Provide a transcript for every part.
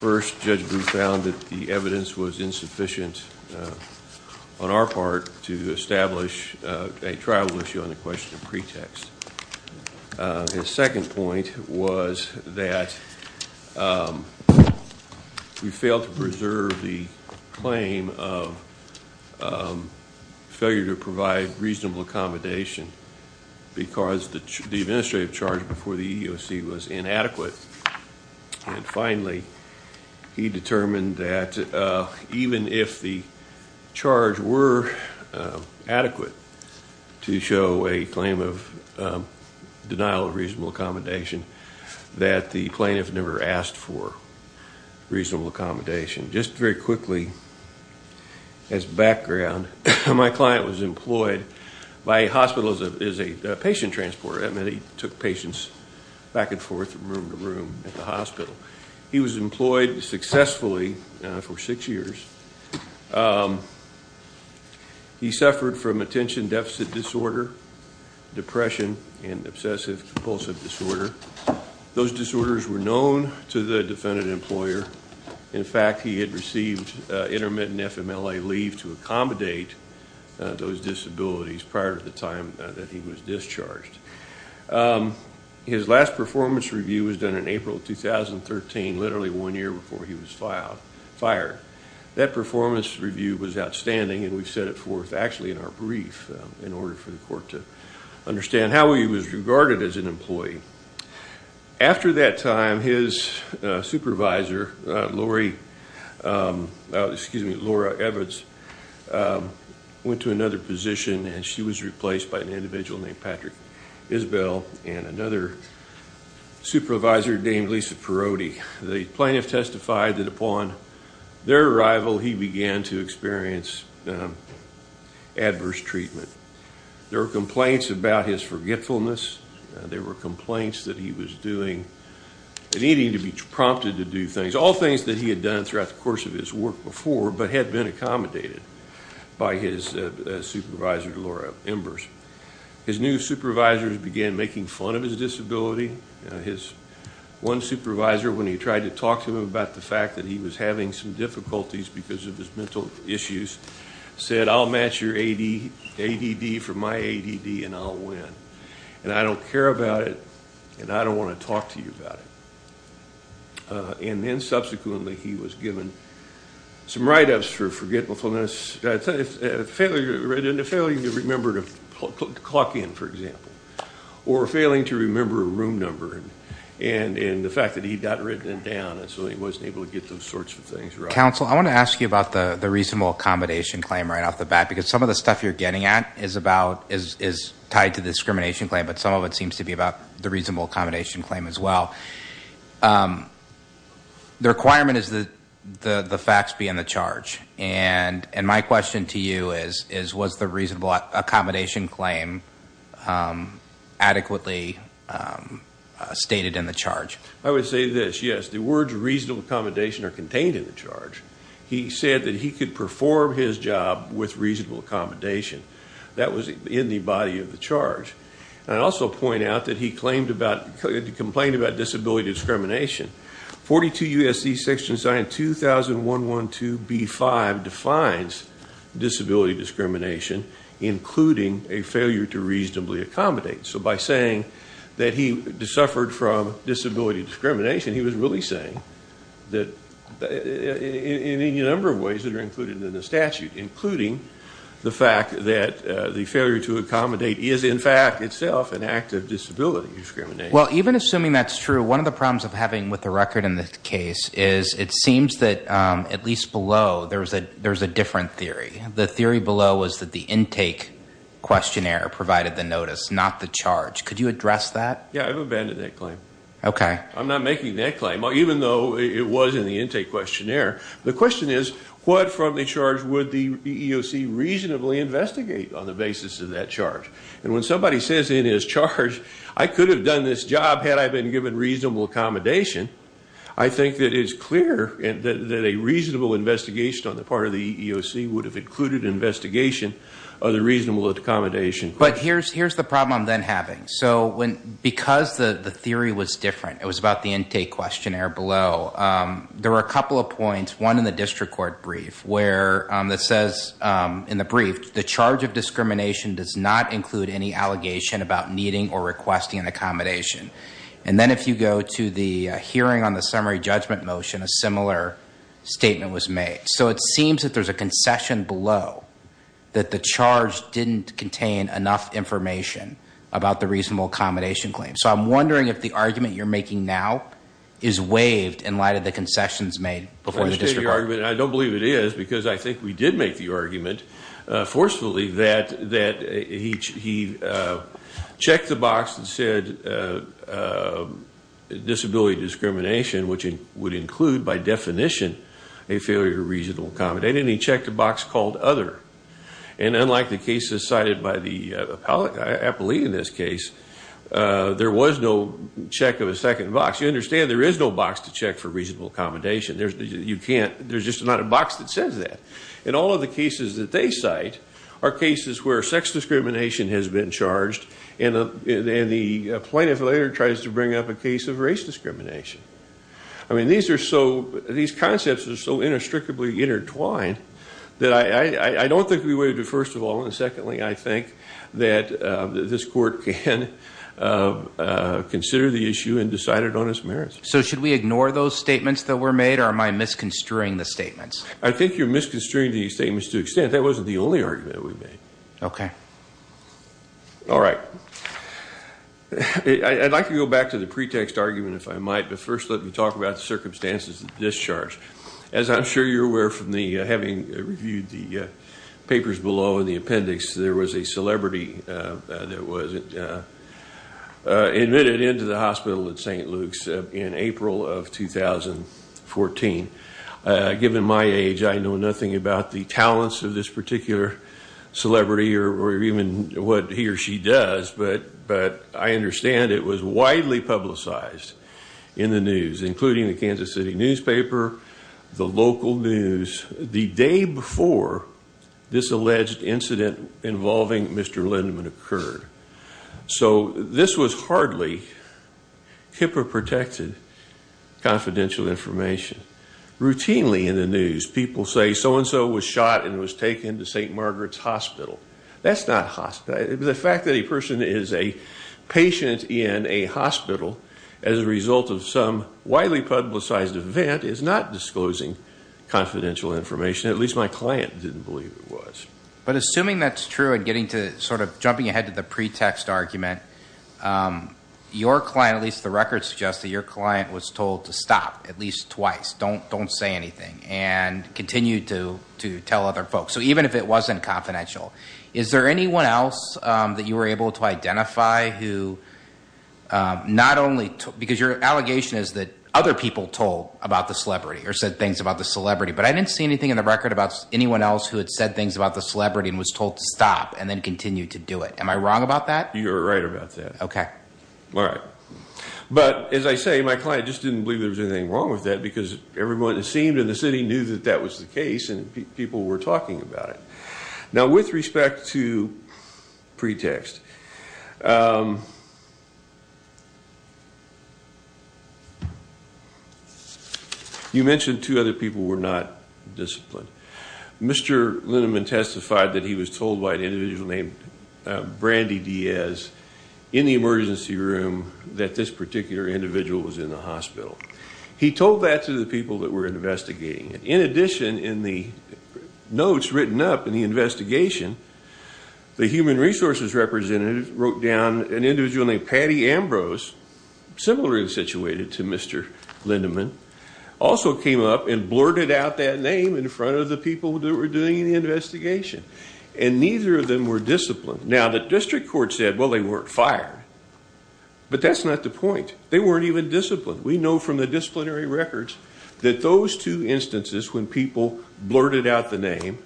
First, Judge Booth found that the evidence was insufficient on our part to establish a trial issue on the question of pretext. His second point was that we failed to preserve the claim of failure to provide reasonable accommodation because the administrative charge before the EEOC was inadequate. And finally, he determined that even if the charge were adequate to show a claim of denial of reasonable accommodation, that the plaintiff never asked for reasonable accommodation. Just very quickly as background, my client was employed by a hospital as a patient transporter. That meant he took patients back and forth from room to room at the hospital. He was employed successfully for six years. He suffered from attention deficit disorder, depression, and obsessive compulsive disorder. Those disorders were known to the defendant employer. In fact, he had received intermittent FMLA leave to accommodate those disabilities prior to the time that he was discharged. His last performance review was done in April 2013, literally one year before he was fired. That performance review was outstanding, and we've set it forth actually in our brief in order for the court to understand how he was regarded as an employee. After that time, his supervisor, Laura Evitz, went to another position, and she was replaced by an individual named Patrick Isbell and another supervisor named Lisa Perotti. The plaintiff testified that upon their arrival, he began to experience adverse treatment. There were complaints about his forgetfulness. There were complaints that he was doing and needing to be prompted to do things, all things that he had done throughout the course of his work before but had been accommodated by his supervisor, Laura Embers. His new supervisors began making fun of his disability. One supervisor, when he tried to talk to him about the fact that he was having some difficulties because of his mental issues, said, I'll match your ADD for my ADD, and I'll win. And I don't care about it, and I don't want to talk to you about it. And then subsequently, he was given some write-ups for forgetfulness, a failure to remember to clock in, for example, or failing to remember a room number, and the fact that he'd gotten written down, and so he wasn't able to get those sorts of things right. Counsel, I want to ask you about the reasonable accommodation claim right off the bat, because some of the stuff you're getting at is tied to the discrimination claim, but some of it seems to be about the reasonable accommodation claim as well. The requirement is that the facts be in the charge, and my question to you is, was the reasonable accommodation claim adequately stated in the charge? I would say this. Yes, the words reasonable accommodation are contained in the charge. He said that he could perform his job with reasonable accommodation. That was in the body of the charge. I'd also point out that he complained about disability discrimination. 42 U.S.C. Section Zion 200112B5 defines disability discrimination, including a failure to reasonably accommodate. So by saying that he suffered from disability discrimination, he was really saying that in any number of ways that are included in the statute, including the fact that the failure to accommodate is in fact itself an act of disability discrimination. Well, even assuming that's true, one of the problems of having with the record in this case is it seems that at least below there's a different theory. The theory below was that the intake questionnaire provided the notice, not the charge. Could you address that? Yeah, I've abandoned that claim. Okay. I'm not making that claim, even though it was in the intake questionnaire. The question is, what from the charge would the EEOC reasonably investigate on the basis of that charge? And when somebody says in his charge, I could have done this job had I been given reasonable accommodation, I think that it's clear that a reasonable investigation on the part of the EEOC would have included investigation of the reasonable accommodation. But here's the problem I'm then having. So because the theory was different, it was about the intake questionnaire below, there were a couple of points, one in the district court brief, where it says in the brief, the charge of discrimination does not include any allegation about needing or requesting an accommodation. And then if you go to the hearing on the summary judgment motion, a similar statement was made. So it seems that there's a concession below that the charge didn't contain enough information about the reasonable accommodation claim. So I'm wondering if the argument you're making now is waived in light of the concessions made before the district court. I don't believe it is because I think we did make the argument forcefully that he checked the box and said, disability discrimination, which would include by definition a failure to reasonable accommodate, and he checked a box called other. And unlike the cases cited by the appellee in this case, there was no check of a second box. You understand there is no box to check for reasonable accommodation. There's just not a box that says that. And all of the cases that they cite are cases where sex discrimination has been charged, and the plaintiff later tries to bring up a case of race discrimination. I mean, these concepts are so inextricably intertwined that I don't think we waived it, first of all. And secondly, I think that this court can consider the issue and decide it on its merits. So should we ignore those statements that were made, or am I misconstruing the statements? I think you're misconstruing the statements to an extent. That wasn't the only argument that we made. Okay. All right. I'd like to go back to the pretext argument, if I might, but first let me talk about the circumstances of discharge. As I'm sure you're aware from having reviewed the papers below and the appendix, there was a celebrity that was admitted into the hospital at St. Luke's in April of 2014. Given my age, I know nothing about the talents of this particular celebrity or even what he or she does, but I understand it was widely publicized in the news, including the Kansas City newspaper, the local news, the day before this alleged incident involving Mr. Lindemann occurred. So this was hardly HIPAA-protected confidential information. Routinely in the news, people say so-and-so was shot and was taken to St. Margaret's Hospital. That's not hospital. The fact that a person is a patient in a hospital as a result of some widely publicized event is not disclosing confidential information. At least my client didn't believe it was. But assuming that's true and getting to sort of jumping ahead to the pretext argument, your client, at least the record suggests that your client, was told to stop at least twice, don't say anything, and continue to tell other folks. So even if it wasn't confidential, is there anyone else that you were able to identify who not only, because your allegation is that other people told about the celebrity or said things about the celebrity, but I didn't see anything in the record about anyone else who had said things about the celebrity and was told to stop and then continue to do it. Am I wrong about that? You are right about that. Okay. All right. But as I say, my client just didn't believe there was anything wrong with that because everyone it seemed in the city knew that that was the case and people were talking about it. Now with respect to pretext, you mentioned two other people were not disciplined. Mr. Lineman testified that he was told by an individual named Brandy Diaz in the emergency room that this particular individual was in the hospital. He told that to the people that were investigating it. In addition, in the notes written up in the investigation, the human resources representative wrote down an individual named Patty Ambrose, similarly situated to Mr. Lineman, also came up and blurted out that name in front of the people that were doing the investigation, and neither of them were disciplined. Now the district court said, well, they weren't fired, but that's not the point. They weren't even disciplined. We know from the disciplinary records that those two instances when people blurted out the name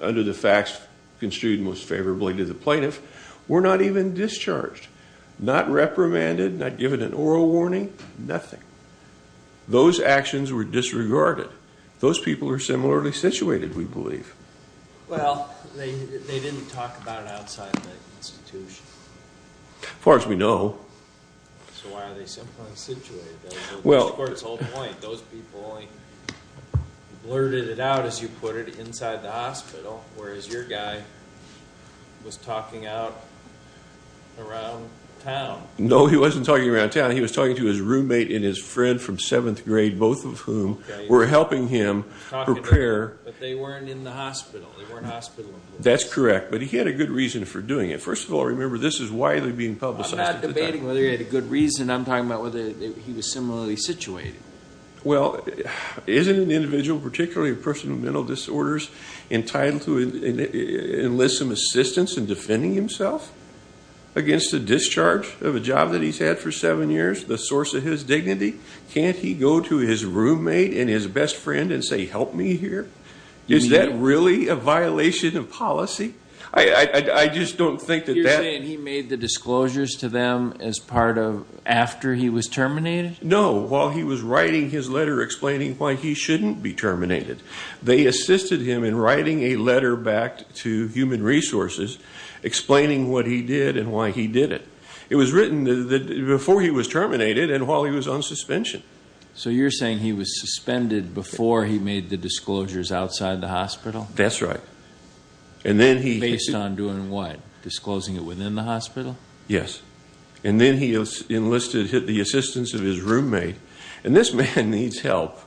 under the facts construed most favorably to the plaintiff were not even discharged, not reprimanded, not given an oral warning, nothing. Those actions were disregarded. Those people are similarly situated, we believe. Well, they didn't talk about it outside the institution. As far as we know. So why are they similarly situated? The district court's whole point, those people only blurted it out, as you put it, inside the hospital, whereas your guy was talking out around town. No, he wasn't talking around town. He was talking to his roommate and his friend from seventh grade, both of whom were helping him prepare. But they weren't in the hospital. They weren't hospital employees. That's correct, but he had a good reason for doing it. First of all, remember, this is widely being publicized. I'm not debating whether he had a good reason. I'm talking about whether he was similarly situated. Well, isn't an individual, particularly a person with mental disorders, entitled to enlist some assistance in defending himself against the discharge of a job that he's had for seven years, the source of his dignity? Can't he go to his roommate and his best friend and say, help me here? Is that really a violation of policy? I just don't think that that. You're saying he made the disclosures to them as part of after he was terminated? No, while he was writing his letter explaining why he shouldn't be terminated. They assisted him in writing a letter back to Human Resources explaining what he did and why he did it. It was written before he was terminated and while he was on suspension. So you're saying he was suspended before he made the disclosures outside the hospital? That's right. And then he. Based on doing what? Disclosing it within the hospital? Yes. And then he enlisted the assistance of his roommate. And this man needs help.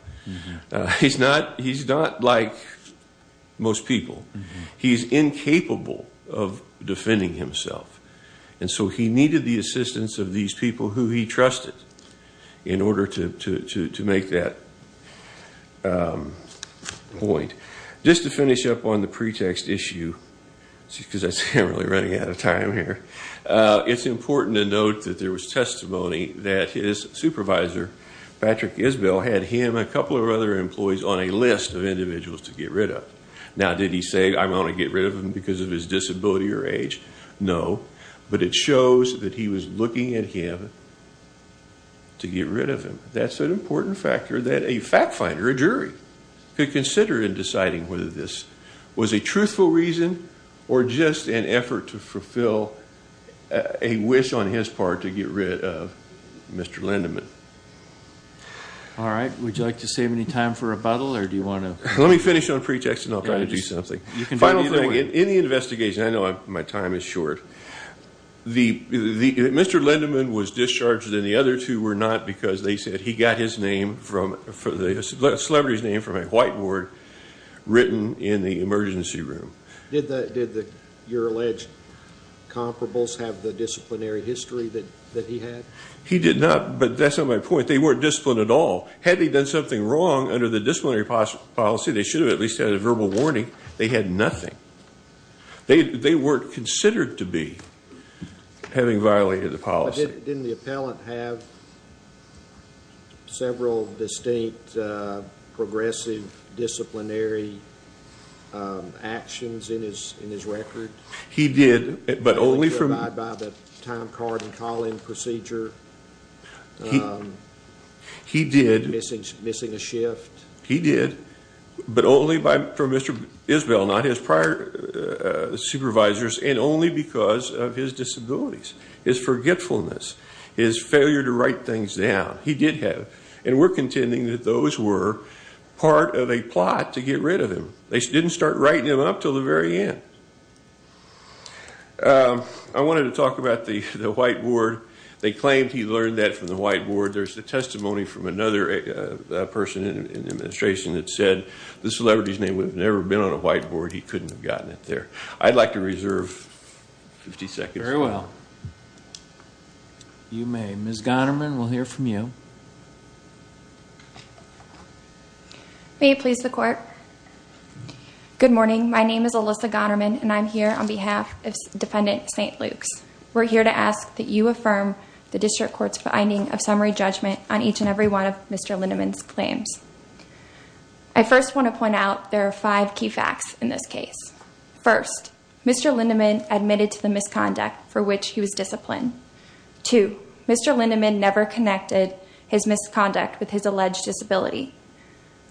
He's not like most people. He's incapable of defending himself. And so he needed the assistance of these people who he trusted in order to make that point. Just to finish up on the pretext issue, because I see I'm really running out of time here. It's important to note that there was testimony that his supervisor, Patrick Isbell, had him and a couple of other employees on a list of individuals to get rid of. Now, did he say, I'm going to get rid of him because of his disability or age? No. But it shows that he was looking at him to get rid of him. That's an important factor that a fact finder, a jury, could consider in deciding whether this was a truthful reason or just an effort to fulfill a wish on his part to get rid of Mr. Lindeman. All right. Would you like to save any time for rebuttal or do you want to? Let me finish on pretext and I'll try to do something. Final thing, in the investigation, I know my time is short. Mr. Lindeman was discharged and the other two were not because they said he got his name, the celebrity's name from a whiteboard written in the emergency room. Did your alleged comparables have the disciplinary history that he had? He did not, but that's not my point. They weren't disciplined at all. Had they done something wrong under the disciplinary policy, they should have at least had a verbal warning. They had nothing. They weren't considered to be having violated the policy. But didn't the appellant have several distinct progressive disciplinary actions in his record? He did, but only from— Provided by the time card and call-in procedure? He did. Missing a shift? He did, but only from Mr. Isbell, not his prior supervisors, and only because of his disabilities, his forgetfulness, his failure to write things down. He did have, and we're contending that those were part of a plot to get rid of him. They didn't start writing him up until the very end. I wanted to talk about the whiteboard. They claimed he learned that from the whiteboard. There's a testimony from another person in the administration that said the celebrity's name would have never been on a whiteboard. He couldn't have gotten it there. I'd like to reserve 50 seconds. Very well. You may. Ms. Gonnerman, we'll hear from you. May it please the Court. Good morning. My name is Alyssa Gonnerman, and I'm here on behalf of Defendant St. Luke's. We're here to ask that you affirm the district court's finding of summary judgment on each and every one of Mr. Lindemann's claims. I first want to point out there are five key facts in this case. First, Mr. Lindemann admitted to the misconduct for which he was disciplined. Two, Mr. Lindemann never connected his misconduct with his alleged disability.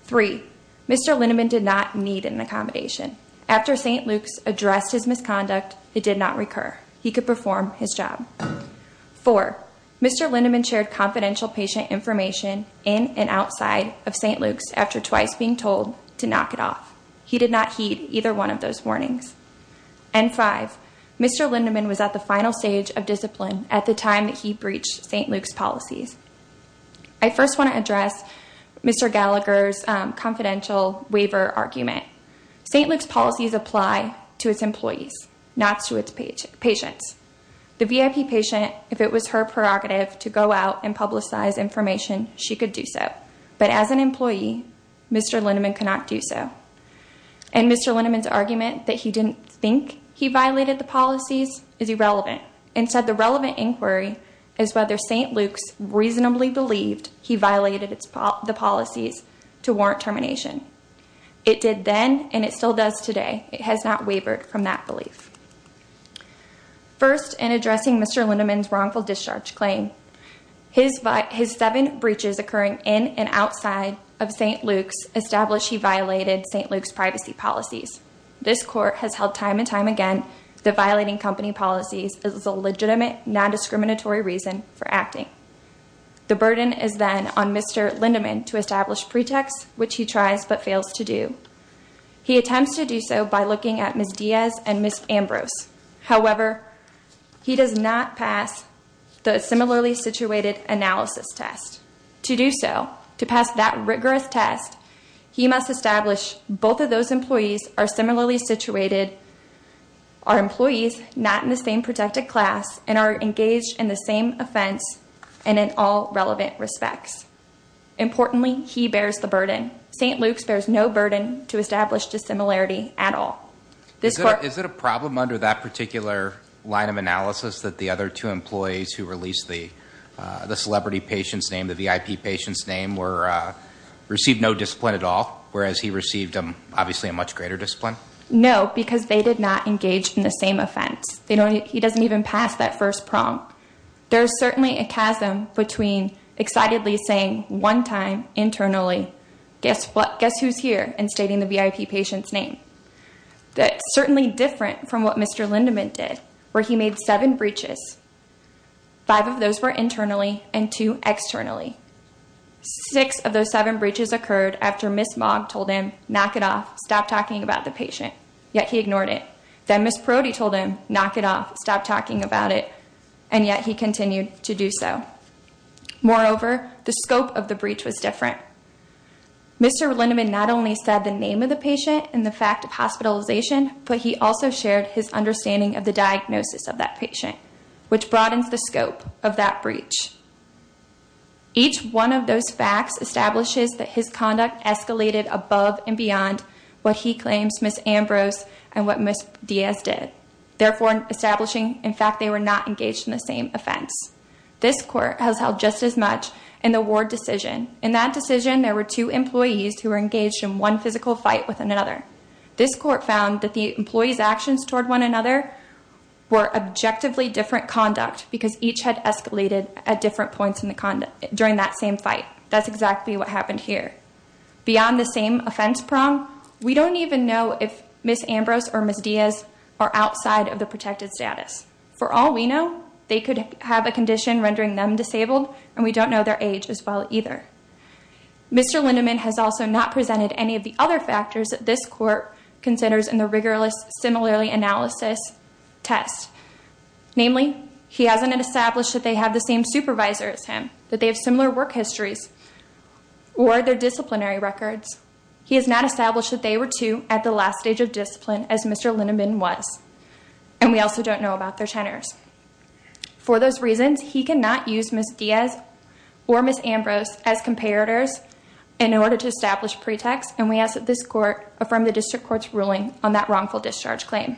Three, Mr. Lindemann did not need an accommodation. After St. Luke's addressed his misconduct, it did not recur. He could perform his job. Four, Mr. Lindemann shared confidential patient information in and outside of St. Luke's after twice being told to knock it off. He did not heed either one of those warnings. And five, Mr. Lindemann was at the final stage of discipline at the time that he breached St. Luke's policies. I first want to address Mr. Gallagher's confidential waiver argument. St. Luke's policies apply to its employees, not to its patients. The VIP patient, if it was her prerogative to go out and publicize information, she could do so. But as an employee, Mr. Lindemann cannot do so. And Mr. Lindemann's argument that he didn't think he violated the policies is irrelevant. Instead, the relevant inquiry is whether St. Luke's reasonably believed he violated the policies to warrant termination. It did then, and it still does today. It has not wavered from that belief. First, in addressing Mr. Lindemann's wrongful discharge claim, his seven breaches occurring in and outside of St. Luke's established he violated St. Luke's privacy policies. This court has held time and time again that violating company policies is a legitimate, non-discriminatory reason for acting. The burden is then on Mr. Lindemann to establish pretexts, which he tries but fails to do. He attempts to do so by looking at Ms. Diaz and Ms. Ambrose. However, he does not pass the similarly situated analysis test. To do so, to pass that rigorous test, he must establish both of those employees are similarly situated, are employees not in the same protected class, and are engaged in the same offense and in all relevant respects. Importantly, he bears the burden. St. Luke's bears no burden to establish dissimilarity at all. Is it a problem under that particular line of analysis that the other two employees who released the celebrity patient's name, the VIP patient's name, received no discipline at all, whereas he received, obviously, a much greater discipline? No, because they did not engage in the same offense. He doesn't even pass that first prompt. There is certainly a chasm between excitedly saying one time internally, guess who's here, and stating the VIP patient's name. That's certainly different from what Mr. Lindemann did, where he made seven breaches. Five of those were internally and two externally. Six of those seven breaches occurred after Ms. Mogg told him, knock it off, stop talking about the patient, yet he ignored it. Then Ms. Perotti told him, knock it off, stop talking about it, and yet he continued to do so. Moreover, the scope of the breach was different. Mr. Lindemann not only said the name of the patient and the fact of hospitalization, but he also shared his understanding of the diagnosis of that patient, which broadens the scope of that breach. Each one of those facts establishes that his conduct escalated above and beyond what he claims Ms. Ambrose and what Ms. Diaz did, therefore establishing, in fact, they were not engaged in the same offense. This court has held just as much in the Ward decision. In that decision, there were two employees who were engaged in one physical fight with another. This court found that the employees' actions toward one another were objectively different conduct because each had escalated at different points during that same fight. That's exactly what happened here. Beyond the same offense prong, we don't even know if Ms. Ambrose or Ms. Diaz are outside of the protected status. For all we know, they could have a condition rendering them disabled, and we don't know their age as well either. Mr. Lindemann has also not presented any of the other factors that this court considers in the rigorous similarly analysis test. Namely, he hasn't established that they have the same supervisor as him, that they have similar work histories or their disciplinary records. He has not established that they were two at the last stage of discipline as Mr. Lindemann was, and we also don't know about their tenors. For those reasons, he cannot use Ms. Diaz or Ms. Ambrose as comparators in order to establish pretext, and we ask that this court affirm the district court's ruling on that wrongful discharge claim.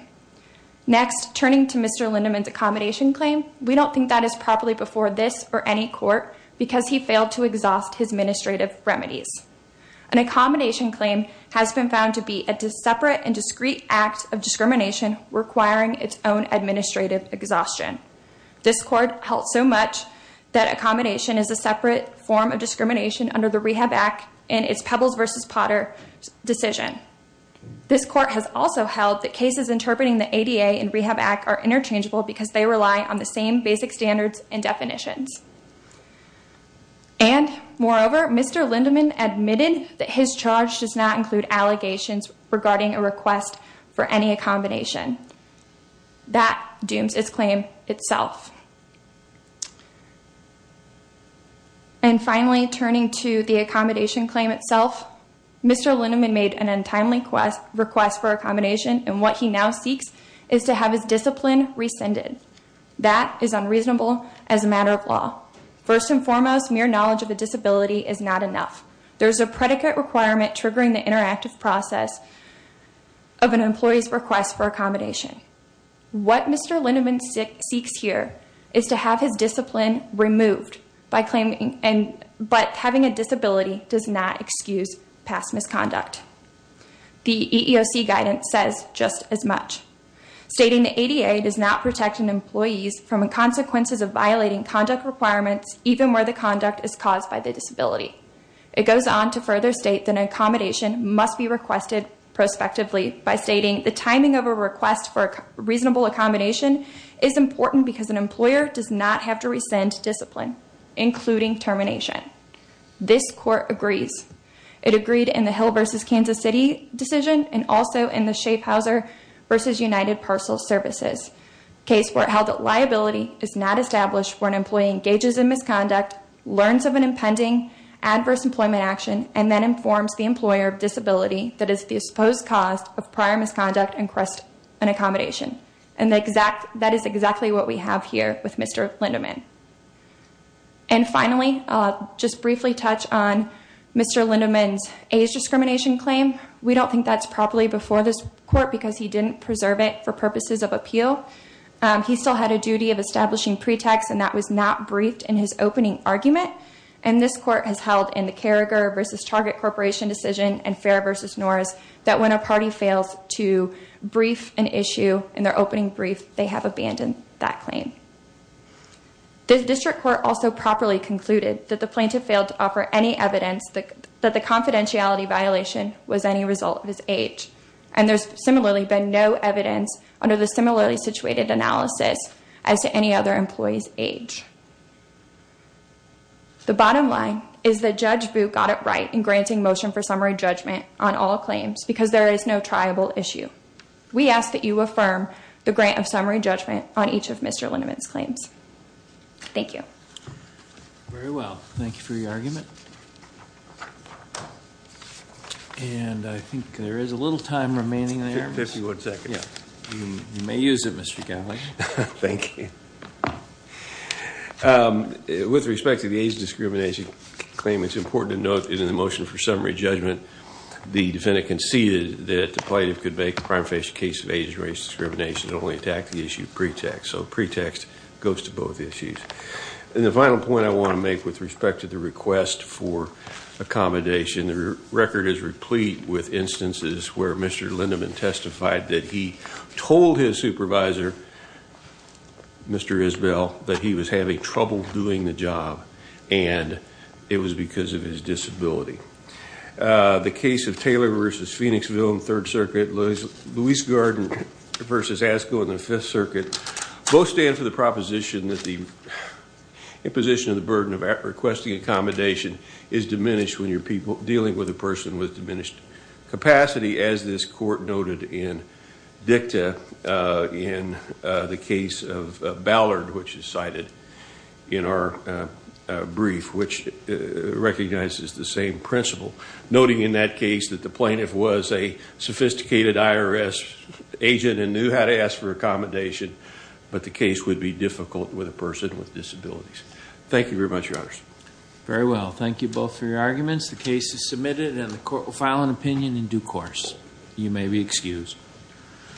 Next, turning to Mr. Lindemann's accommodation claim, we don't think that is properly before this or any court because he failed to exhaust his administrative remedies. An accommodation claim has been found to be a separate and discreet act of discrimination requiring its own administrative exhaustion. This court held so much that accommodation is a separate form of discrimination under the Rehab Act and its Pebbles versus Potter decision. This court has also held that cases interpreting the ADA and Rehab Act are interchangeable because they rely on the same basic standards and definitions. And moreover, Mr. Lindemann admitted that his charge does not include allegations regarding a request for any accommodation. That dooms its claim itself. And finally, turning to the accommodation claim itself, Mr. Lindemann made an untimely request for accommodation, and what he now seeks is to have his discipline rescinded. That is unreasonable as a matter of law. First and foremost, mere knowledge of a disability is not enough. There's a predicate requirement triggering the interactive process of an employee's request for accommodation. What Mr. Lindemann seeks here is to have his discipline removed, but having a disability does not excuse past misconduct. The EEOC guidance says just as much. Stating the ADA does not protect an employee from the consequences of violating conduct requirements, even where the conduct is caused by the disability. It goes on to further state that an accommodation must be requested prospectively by stating the timing of a request for reasonable accommodation is important because an employer does not have to rescind discipline, including termination. This court agrees. It agreed in the Hill v. Kansas City decision and also in the Schaefhauser v. United Parcel Services, a case where it held that liability is not established when an employee engages in misconduct, learns of an impending adverse employment action, and then informs the employer of disability that is the supposed cause of prior misconduct and request an accommodation. And that is exactly what we have here with Mr. Lindemann. And finally, I'll just briefly touch on Mr. Lindemann's AIDS discrimination claim. We don't think that's properly before this court because he didn't preserve it for purposes of appeal. He still had a duty of establishing pretext, and that was not briefed in his opening argument. And this court has held in the Carragher v. Target Corporation decision and Fair v. Norris that when a party fails to brief an issue in their opening brief, they have abandoned that claim. The district court also properly concluded that the plaintiff failed to offer any evidence that the confidentiality violation was any result of his age. And there's similarly been no evidence under the similarly situated analysis as to any other employee's age. The bottom line is that Judge Boot got it right in granting motion for summary judgment on all claims because there is no triable issue. We ask that you affirm the grant of summary judgment on each of Mr. Lindemann's claims. Thank you. Very well. Thank you for your argument. And I think there is a little time remaining there. Fifty-one seconds. Yeah. You may use it, Mr. Connolly. Thank you. With respect to the AIDS discrimination claim, it's important to note that in the motion for summary judgment, the defendant conceded that the plaintiff could make a crime-faced case of AIDS race discrimination and only attack the issue of pretext. So pretext goes to both issues. And the final point I want to make with respect to the request for accommodation, the record is replete with instances where Mr. Lindemann testified that he told his supervisor, Mr. Isbell, that he was having trouble doing the job and it was because of his disability. The case of Taylor v. Phoenixville in the Third Circuit, Lewis Garden v. Asko in the Fifth Circuit, both stand for the proposition that the imposition of the burden of requesting accommodation is diminished when you're dealing with a person with diminished capacity, as this court noted in dicta in the case of Ballard, which is cited in our brief, which recognizes the same principle, noting in that case that the plaintiff was a sophisticated IRS agent and knew how to ask for accommodation, but the case would be difficult with a person with disabilities. Thank you very much, Your Honors. Very well. Thank you both for your arguments. The case is submitted and the court will file an opinion in due course. You may be excused.